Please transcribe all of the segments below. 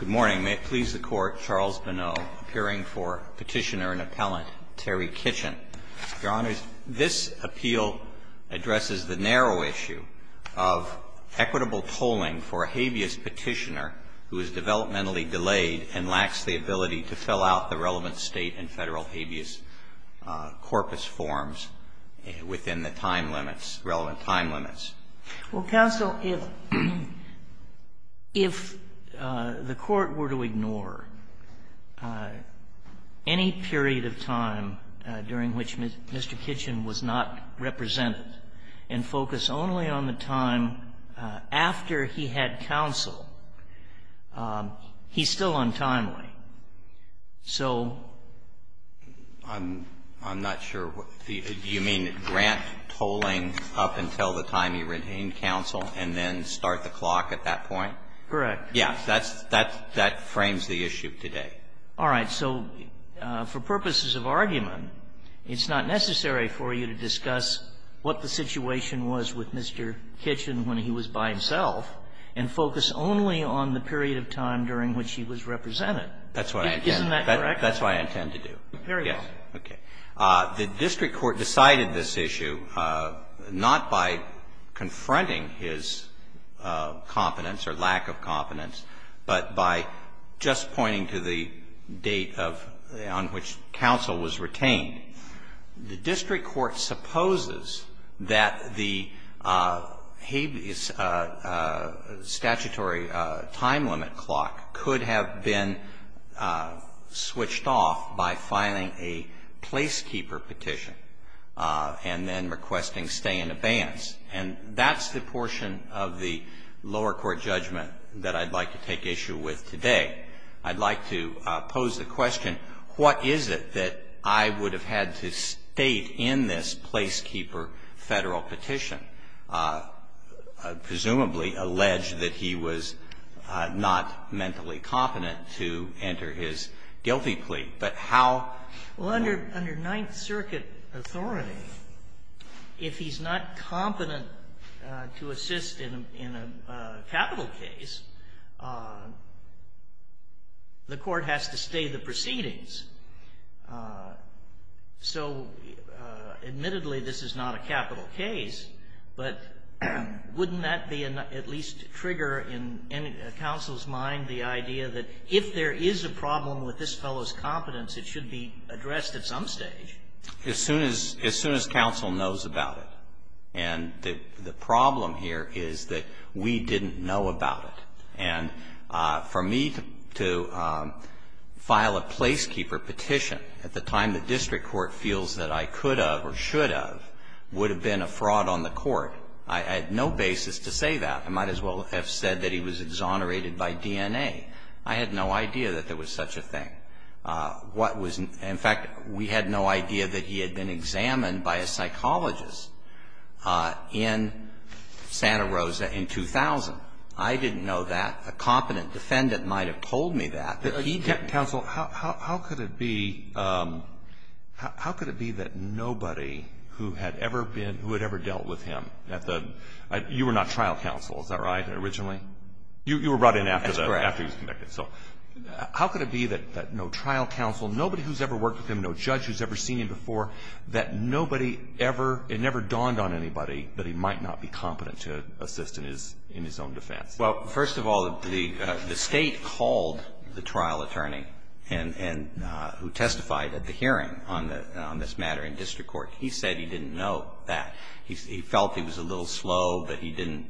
Good morning. May it please the Court, Charles Bonneau, appearing for Petitioner and Appellant Terry Kitchen. Your Honors, this appeal addresses the narrow issue of equitable tolling for a habeas petitioner who is developmentally delayed and lacks the ability to fill out the relevant State and Federal habeas corpus forms within the time limits, relevant time limits. Well, counsel, if the Court were to ignore any period of time during which Mr. Kitchen was not represented and focus only on the time after he had counsel, he's still untimely. So the other question is, is there a way to make it so that he's still untimely to retain counsel and then start the clock at that point? Correct. Yes. That's the issue today. All right. So for purposes of argument, it's not necessary for you to discuss what the situation was with Mr. Kitchen when he was by himself and focus only on the period of time during which he was represented. That's what I intend to do. Isn't that correct? That's what I intend to do. Very well. Okay. The district court decided this issue not by confronting his competence or lack of competence, but by just pointing to the date of the end on which counsel was retained. The district court supposes that the habeas statutory time limit clock could have been switched off by filing a placekeeper petition and then requesting stay in abeyance. And that's the portion of the lower court judgment that I'd like to take issue with today. I'd like to pose the question, what is it that I would have had to state in this placekeeper Federal petition, presumably allege that he was not mentally competent to enter his guilty plea? But how? Well, under Ninth Circuit authority, if he's not competent to assist in a capital case, the court has to stay the proceedings. So admittedly, this is not a capital case, but wouldn't that be at least a trigger in counsel's mind, the idea that if there is a problem with this fellow's competence, it should be addressed at some stage? As soon as counsel knows about it. And the problem here is that we didn't know about it. And for me to file a placekeeper petition at the time the district court feels that I could have or should have would have been a fraud on the court. I had no basis to say that. I might as well have said that he was exonerated by DNA. I had no idea that there was such a thing. What was, in fact, we had no idea that he had been examined by a psychologist in Santa Rosa in 2000. I didn't know that. A competent defendant might have told me that, but he didn't. Counsel, how could it be, how could it be that nobody who had ever been, who had not trial counsel, is that right, originally? You were brought in after he was convicted. That's correct. How could it be that no trial counsel, nobody who's ever worked with him, no judge who's ever seen him before, that nobody ever, it never dawned on anybody that he might not be competent to assist in his own defense? Well, first of all, the State called the trial attorney who testified at the hearing on this matter in district court. He said he didn't know that. He felt he was a little slow, but he didn't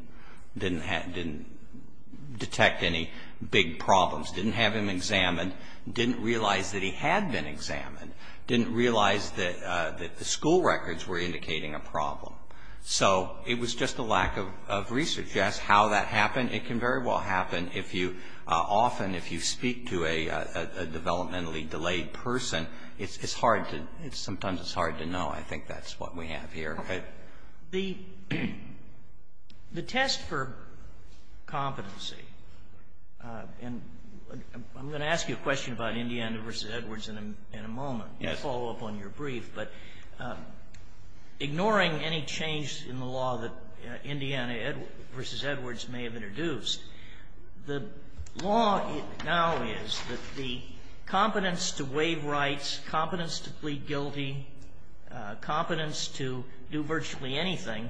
detect any big problems, didn't have him examined, didn't realize that he had been examined, didn't realize that the school records were indicating a problem. So it was just a lack of research as to how that happened. It can very well happen if you, often if you speak to a developmentally delayed person, it's hard to, sometimes it's hard to know. I think that's what we have here. Okay. The test for competency, and I'm going to ask you a question about Indiana v. Edwards in a moment. Yes. I'll follow up on your brief. But ignoring any change in the law that Indiana v. Edwards may have introduced, the law now is that the competence to waive rights, competence to plead guilty, competence to do virtually anything,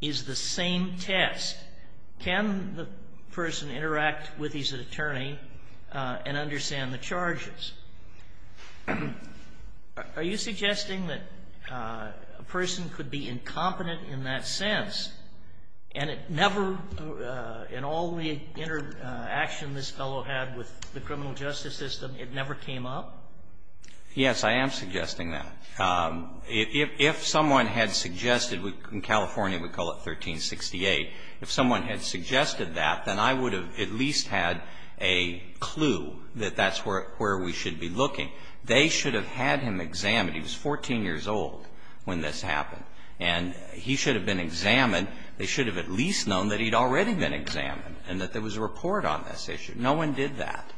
is the same test. Can the person interact with his attorney and understand the charges? Are you suggesting that a person could be incompetent in that sense, and it never in all the interaction this fellow had with the criminal justice system, it never came up? Yes, I am suggesting that. If someone had suggested, in California we call it 1368, if someone had suggested that, then I would have at least had a clue that that's where we should be looking. They should have had him examined. He was 14 years old when this happened. And he should have been examined. They should have at least known that he had already been examined and that there was a report on this issue. No one did that.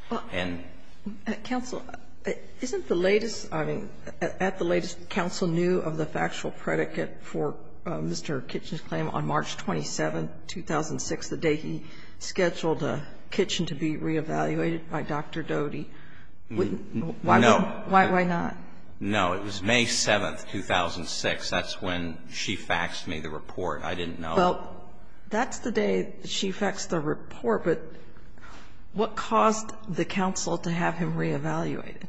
Counsel, isn't the latest, I mean, at the latest, counsel knew of the factual predicate for Mr. Kitchen's claim on March 27, 2006, the day he scheduled a kitchen to be reevaluated by Dr. Doty? No. Why not? No. It was May 7, 2006. That's when she faxed me the report. I didn't know. Well, that's the day she faxed the report. But what caused the counsel to have him reevaluated?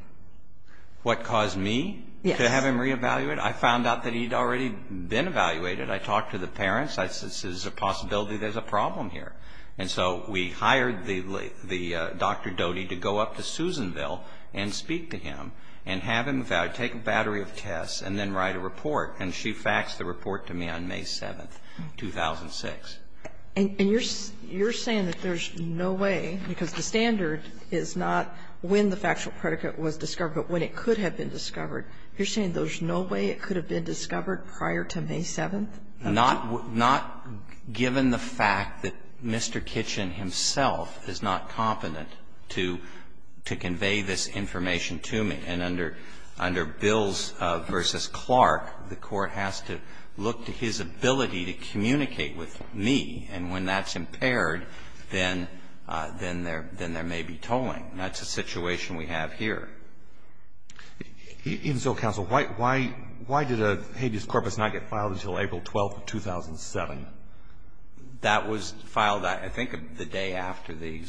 What caused me to have him reevaluated? I found out that he had already been evaluated. I talked to the parents. I said, this is a possibility there's a problem here. And so we hired the Dr. Doty to go up to Susanville and speak to him and have him take a battery of tests and then write a report. And she faxed the report to me on May 7, 2006. And you're saying that there's no way, because the standard is not when the factual predicate was discovered, but when it could have been discovered. You're saying there's no way it could have been discovered prior to May 7? Not given the fact that Mr. Kitchen himself is not competent to convey this information to me. And under Bills v. Clark, the court has to look to his ability to communicate with me. And when that's impaired, then there may be tolling. That's a situation we have here. Even so, counsel, why did a habeas corpus not get filed until April 12, 2007? That was filed, I think, the day after the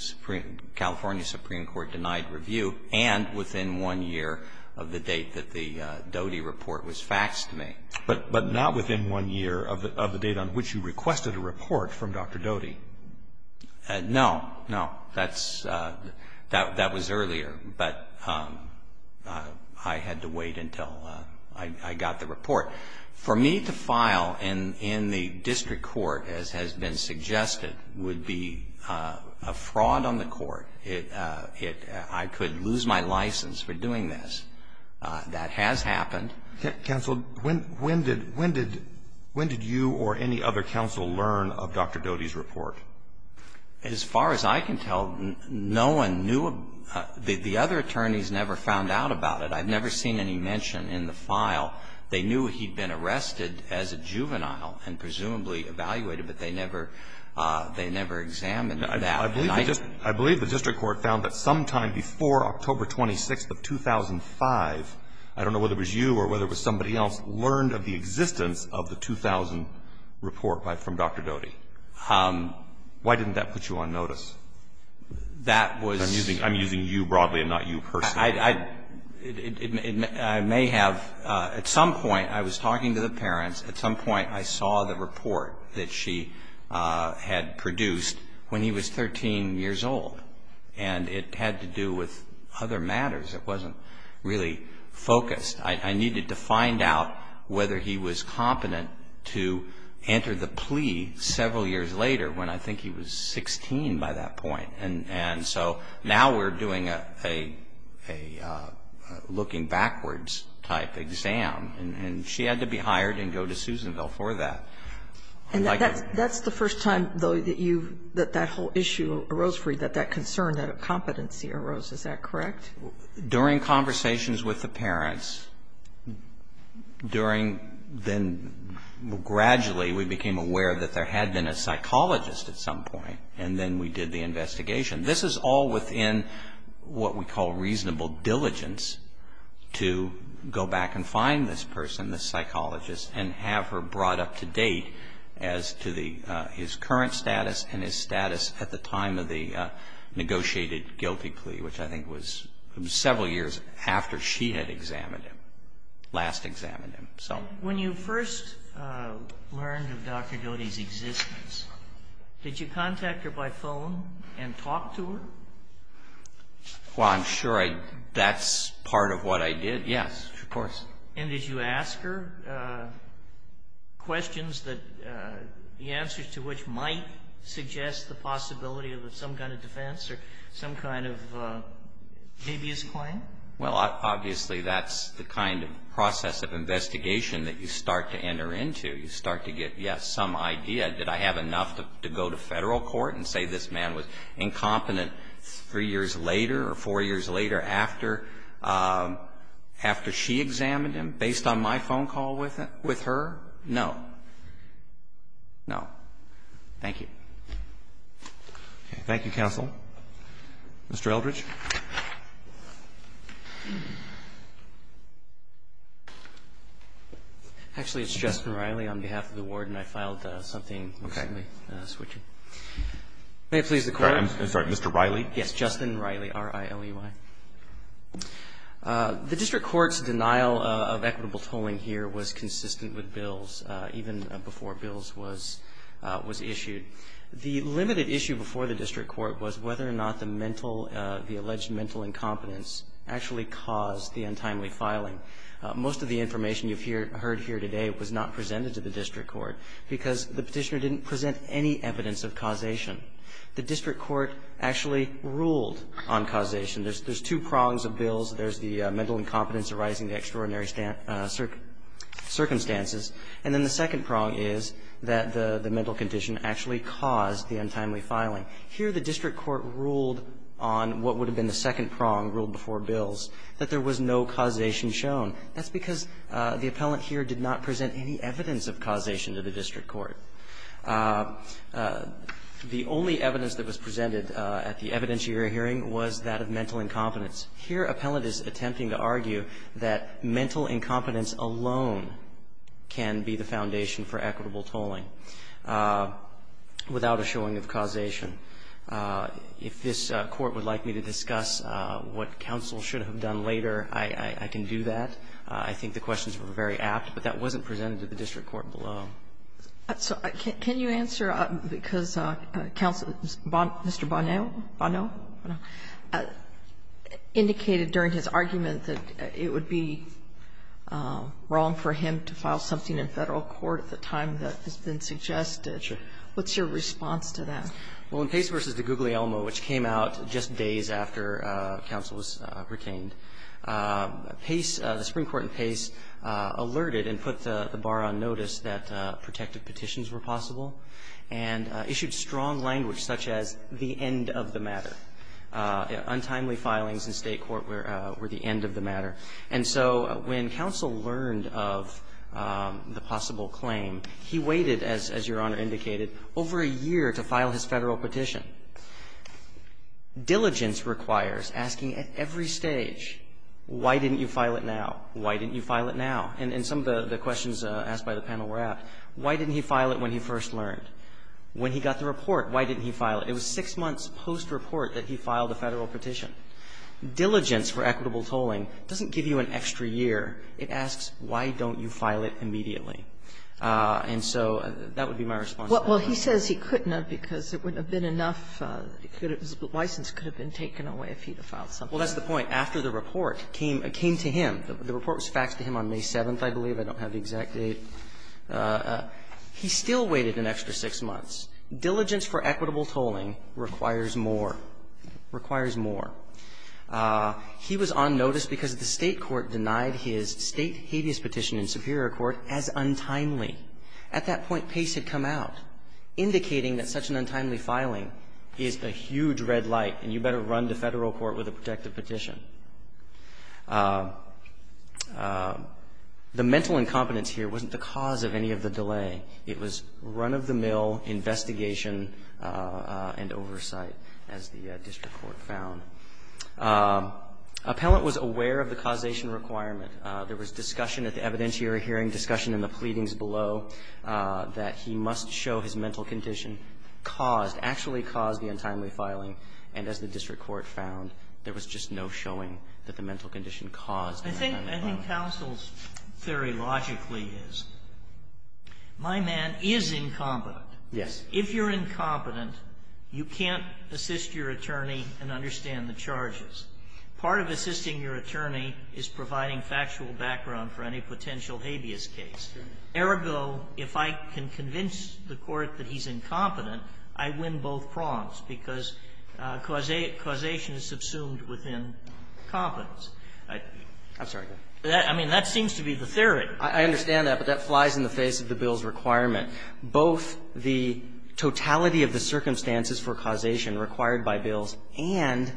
California Supreme Court denied review and within one year of the date that the Doty report was faxed to me. But not within one year of the date on which you requested a report from Dr. Doty? No, no. That was earlier. But I had to wait until I got the report. For me to file in the district court, as has been suggested, would be a fraud on the court. I could lose my license for doing this. That has happened. Counsel, when did you or any other counsel learn of Dr. Doty's report? As far as I can tell, no one knew. The other attorneys never found out about it. I've never seen any mention in the file. They knew he'd been arrested as a juvenile and presumably evaluated, but they never examined that. I believe the district court found that sometime before October 26th of 2005, I don't know whether it was you or whether it was somebody else, learned of the existence of the 2000 report from Dr. Doty. Why didn't that put you on notice? That was... I'm using you broadly and not you personally. I may have. At some point, I was talking to the parents. At some point, I saw the report that she had produced when he was 13 years old. And it had to do with other matters. It wasn't really focused. I needed to find out whether he was competent to enter the plea several years later when I think he was 16 by that point. And so now we're doing a looking backwards type exam. And she had to be hired and go to Susanville for that. And that's the first time, though, that that whole issue arose for you, that that concern, that competency arose. Is that correct? During conversations with the parents, during then gradually we became aware that there had been a psychologist at some point. And then we did the investigation. This is all within what we call reasonable diligence to go back and find this person, this psychologist, and have her brought up to date as to his current status and his status at the time of the negotiated guilty plea, which I think was several years after she had examined him, last examined him. When you first learned of Dr. Doty's existence, did you contact her by phone and talk to her? Well, I'm sure that's part of what I did. Yes, of course. And did you ask her questions that the answers to which might suggest the possibility of some kind of defense or some kind of habeas claim? Well, obviously that's the kind of process of investigation that you start to enter into. You start to get, yes, some idea. Did I have enough to go to Federal court and say this man was incompetent three years later or four years later after she examined him based on my phone call with her? No. No. Thank you. Thank you, counsel. Mr. Eldridge. Actually, it's Justin Riley on behalf of the warden. I filed something recently. May it please the Court? I'm sorry. Mr. Riley? Yes, Justin Riley, R-I-L-E-Y. The district court's denial of equitable tolling here was consistent with Bills even before Bills was issued. The limited issue before the district court was whether or not the mental, the alleged mental incompetence actually caused the untimely filing. Most of the information you've heard here today was not presented to the district court because the petitioner didn't present any evidence of causation. The district court actually ruled on causation. There's two prongs of Bills. There's the mental incompetence arising in extraordinary circumstances, and then the second prong is that the mental condition actually caused the untimely filing. Here the district court ruled on what would have been the second prong ruled before it was shown. That's because the appellant here did not present any evidence of causation to the district court. The only evidence that was presented at the evidentiary hearing was that of mental incompetence. Here appellant is attempting to argue that mental incompetence alone can be the foundation for equitable tolling without a showing of causation. If this Court would like me to discuss what counsel should have done later, I can do that. I think the questions were very apt, but that wasn't presented to the district court below. So can you answer, because Mr. Bonneau indicated during his argument that it would be wrong for him to file something in Federal court at the time that has been suggested. Sure. What's your response to that? Well, in Pace v. DeGuglielmo, which came out just days after counsel was retained, Pace, the Supreme Court in Pace, alerted and put the bar on notice that protective petitions were possible and issued strong language such as the end of the matter. Untimely filings in State court were the end of the matter. And so when counsel learned of the possible claim, he waited, as Your Honor indicated, over a year to file his Federal petition. Diligence requires asking at every stage, why didn't you file it now? Why didn't you file it now? And some of the questions asked by the panel were apt. Why didn't he file it when he first learned? When he got the report, why didn't he file it? It was six months post-report that he filed a Federal petition. Diligence for equitable tolling doesn't give you an extra year. It asks, why don't you file it immediately? And so that would be my response. Well, he says he couldn't have because it wouldn't have been enough. His license could have been taken away if he had filed something. Well, that's the point. After the report came to him, the report was faxed to him on May 7th, I believe. I don't have the exact date. He still waited an extra six months. Diligence for equitable tolling requires more. Requires more. He was on notice because the State court denied his State habeas petition in Superior Court as untimely. At that point, Pace had come out. Indicating that such an untimely filing is a huge red light and you better run to Federal court with a protective petition. The mental incompetence here wasn't the cause of any of the delay. It was run-of-the-mill investigation and oversight, as the district court found. Appellant was aware of the causation requirement. There was discussion at the evidentiary hearing, discussion in the pleadings below, that he must show his mental condition caused, actually caused the untimely filing. And as the district court found, there was just no showing that the mental condition caused the untimely filing. I think counsel's theory logically is, my man is incompetent. Yes. If you're incompetent, you can't assist your attorney and understand the charges. Part of assisting your attorney is providing factual background for any potential habeas case. Ergo, if I can convince the court that he's incompetent, I win both prongs, because causation is subsumed within competence. I mean, that seems to be the theory. I understand that, but that flies in the face of the bill's requirement. Both the totality of the circumstances for causation required by bills and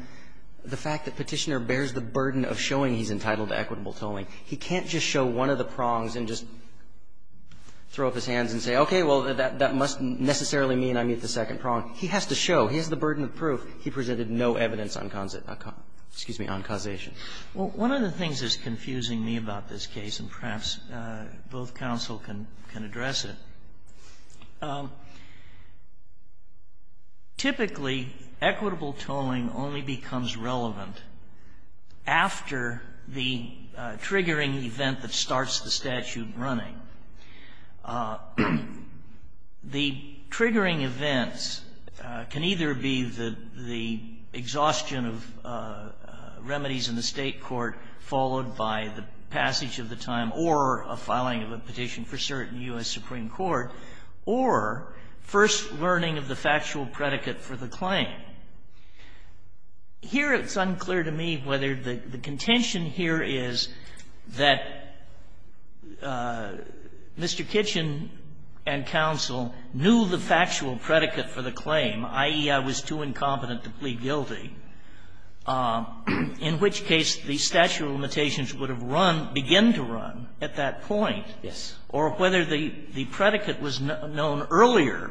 the fact that Petitioner bears the burden of showing he's entitled to equitable tolling, he can't just show one of the prongs and just throw up his hands and say, okay, well, that must necessarily mean I meet the second prong. He has to show. He has the burden of proof. He presented no evidence on causation. Well, one of the things that's confusing me about this case, and perhaps both counsel can address it, typically, equitable tolling only becomes relevant after the trigger triggering event that starts the statute running. The triggering events can either be the exhaustion of remedies in the State court followed by the passage of the time or a filing of a petition for cert in U.S. Supreme Court, or first learning of the factual predicate for the claim. Here it's unclear to me whether the contention here is that Mr. Kitchen and counsel knew the factual predicate for the claim, i.e., I was too incompetent to plead guilty, in which case the statute of limitations would have run, began to run at that point, or whether the predicate was known earlier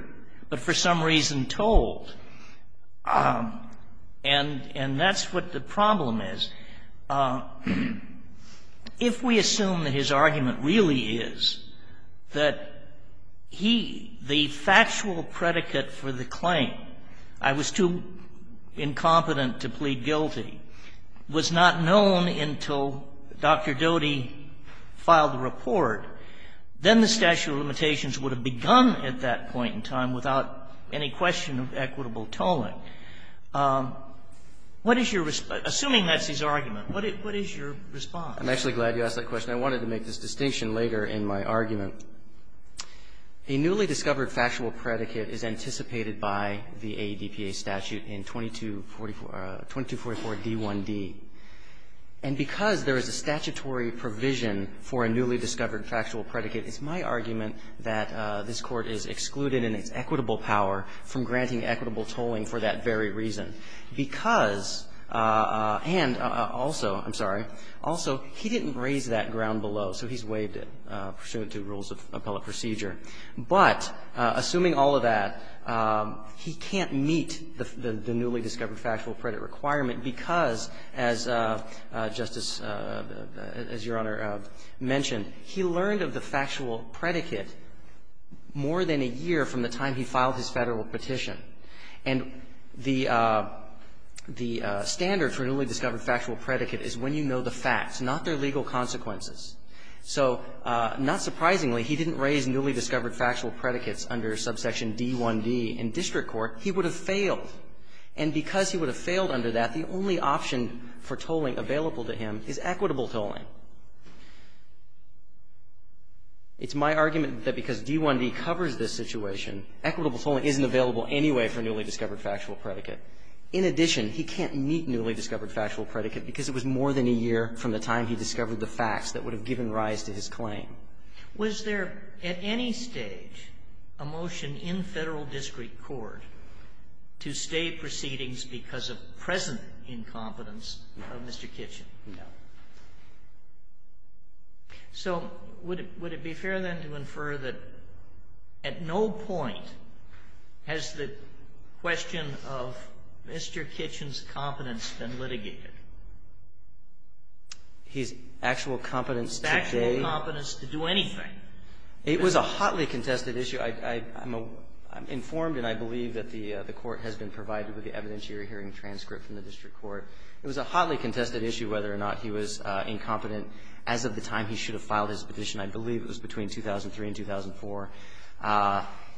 but for some reason told. And that's what the problem is. If we assume that his argument really is that he, the factual predicate for the claim, I was too incompetent to plead guilty, was not known until Dr. Doty filed the report, then the statute of limitations would have begun at that point in time without any question of equitable tolling. What is your, assuming that's his argument, what is your response? I'm actually glad you asked that question. I wanted to make this distinction later in my argument. A newly discovered factual predicate is anticipated by the AEDPA statute in 2244 D1D. And because there is a statutory provision for a newly discovered factual predicate, it's my argument that this Court is excluded in its equitable power from granting equitable tolling for that very reason. Because, and also, I'm sorry, also, he didn't raise that ground below, so he's waived it pursuant to rules of appellate procedure. But assuming all of that, he can't meet the newly discovered factual predicate requirement because, as Justice, as Your Honor mentioned, he learned of the factual predicate more than a year from the time he filed his Federal petition. And the standard for newly discovered factual predicate is when you know the facts, not their legal consequences. So not surprisingly, he didn't raise newly discovered factual predicates under Subsection D1D in district court. He would have failed. And because he would have failed under that, the only option for tolling available to him is equitable tolling. It's my argument that because D1D covers this situation, equitable tolling isn't available anyway for newly discovered factual predicate. In addition, he can't meet newly discovered factual predicate because it was more than a year from the time he discovered the facts that would have given rise to his claim. Was there at any stage a motion in Federal district court to stay proceedings because of present incompetence of Mr. Kitchen? No. So would it be fair, then, to infer that at no point has the question of Mr. Kitchen's competence been litigated? His actual competence to date? His actual competence to do anything. It was a hotly contested issue. I'm informed and I believe that the court has been provided with the evidentiary hearing transcript from the district court. It was a hotly contested issue whether or not he was incompetent as of the time he should have filed his petition. I believe it was between 2003 and 2004.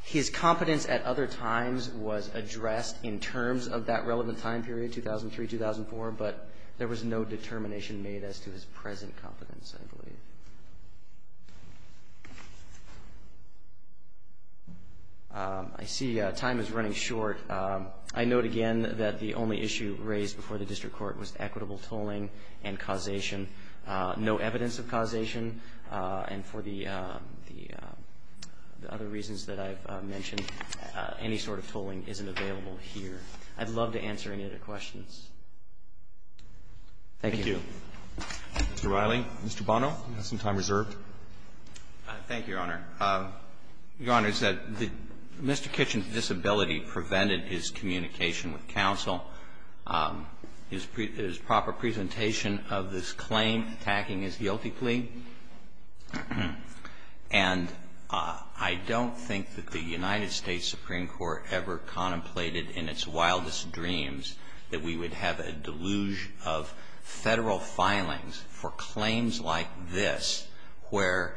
His competence at other times was addressed in terms of that relevant time period, 2003, 2004, but there was no determination made as to his present competence, I believe. I see time is running short. I note again that the only issue raised before the district court was equitable tolling and causation. No evidence of causation. And for the other reasons that I've mentioned, any sort of tolling isn't available here. I'd love to answer any other questions. Thank you. Thank you. Mr. Riley. Mr. Bono. Mr. Bono. Do you have some time reserved? Thank you, Your Honor. Your Honor, Mr. Kitchen's disability prevented his communication with counsel. His proper presentation of this claim attacking his guilty plea. And I don't think that the United States Supreme Court ever contemplated in its wildest dreams that we would have a deluge of federal filings for claims like this where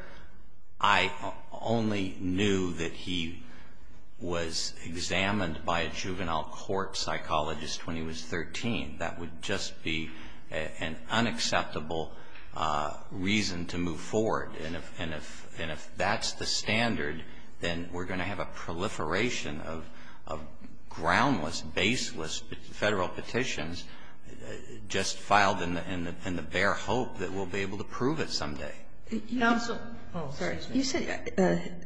I only knew that he was examined by a juvenile court psychologist when he was 13. That would just be an unacceptable reason to move forward. And if that's the standard, then we're going to have a proliferation of groundless, baseless federal petitions just filed in the bare hope that we'll be able to prove it someday. Counsel. Oh, excuse me. You said,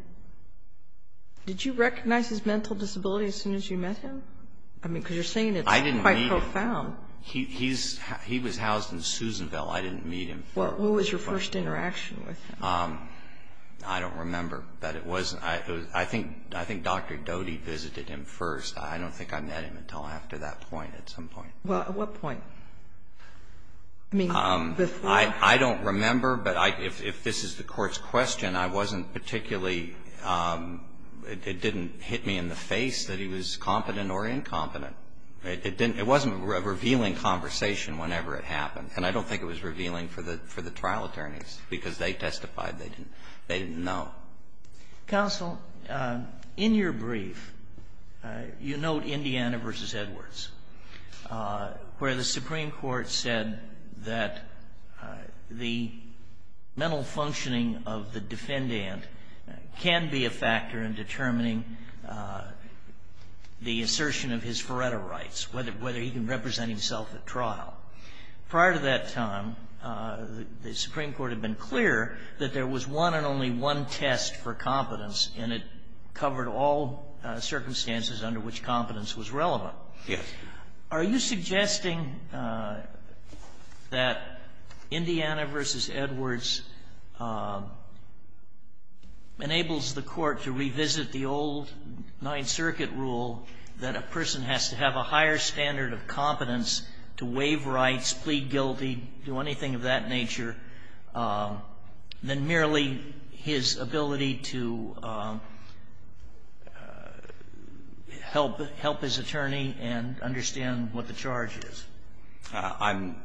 did you recognize his mental disability as soon as you met him? I mean, because you're saying it's quite profound. I didn't meet him. He was housed in Susanville. I didn't meet him there. Well, who was your first interaction with him? I don't remember. But it was, I think Dr. Doty visited him first. I don't think I met him until after that point at some point. Well, at what point? I mean, before? I don't remember. But if this is the Court's question, I wasn't particularly, it didn't hit me in the face that he was competent or incompetent. It didn't, it wasn't a revealing conversation whenever it happened. And I don't think it was revealing for the trial attorneys, because they testified they didn't know. Counsel, in your brief, you note Indiana v. Edwards, where the Supreme Court said that the mental functioning of the defendant can be a factor in determining the assertion of his Feretta rights, whether he can represent himself at trial. Prior to that time, the Supreme Court had been clear that there was one and only one test for competence, and it covered all circumstances under which competence was relevant. Yes. Are you suggesting that Indiana v. Edwards enables the Court to revisit the old Ninth Circuit rule that a person has to have a higher standard of competence to waive rights, plead guilty, do anything of that nature, than merely his ability to help his attorney and understand what the charge is? I'm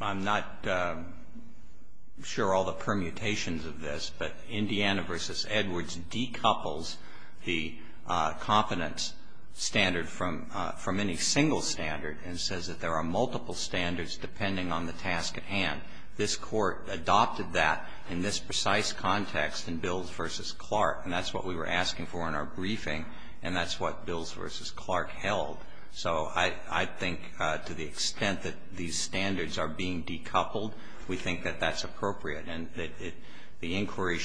not sure all the permutations of this, but Indiana v. Edwards decouples the competence standard from any single standard and says that there are multiple standards depending on the task at hand. This Court adopted that in this precise context in Bills v. Clark, and that's what we were asking for in our briefing, and that's what Bills v. Clark held. So I think to the extent that these standards are being decoupled, we think that that's going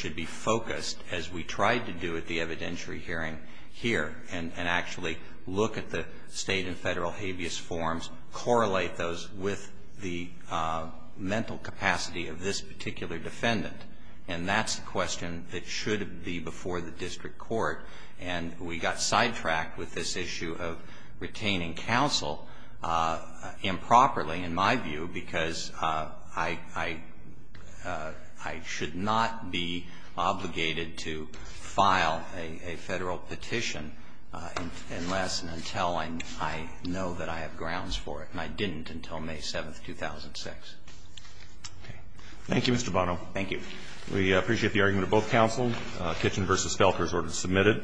to be focused, as we tried to do at the evidentiary hearing here, and actually look at the state and federal habeas forms, correlate those with the mental capacity of this particular defendant. And that's the question that should be before the district court, and we got sidetracked with this issue of retaining counsel improperly, in my view, because I should not be obligated to file a federal petition unless and until I know that I have grounds for it, and I didn't until May 7th, 2006. Okay. Thank you, Mr. Bono. Thank you. We appreciate the argument of both counsels. Kitchen v. Felker's order is submitted.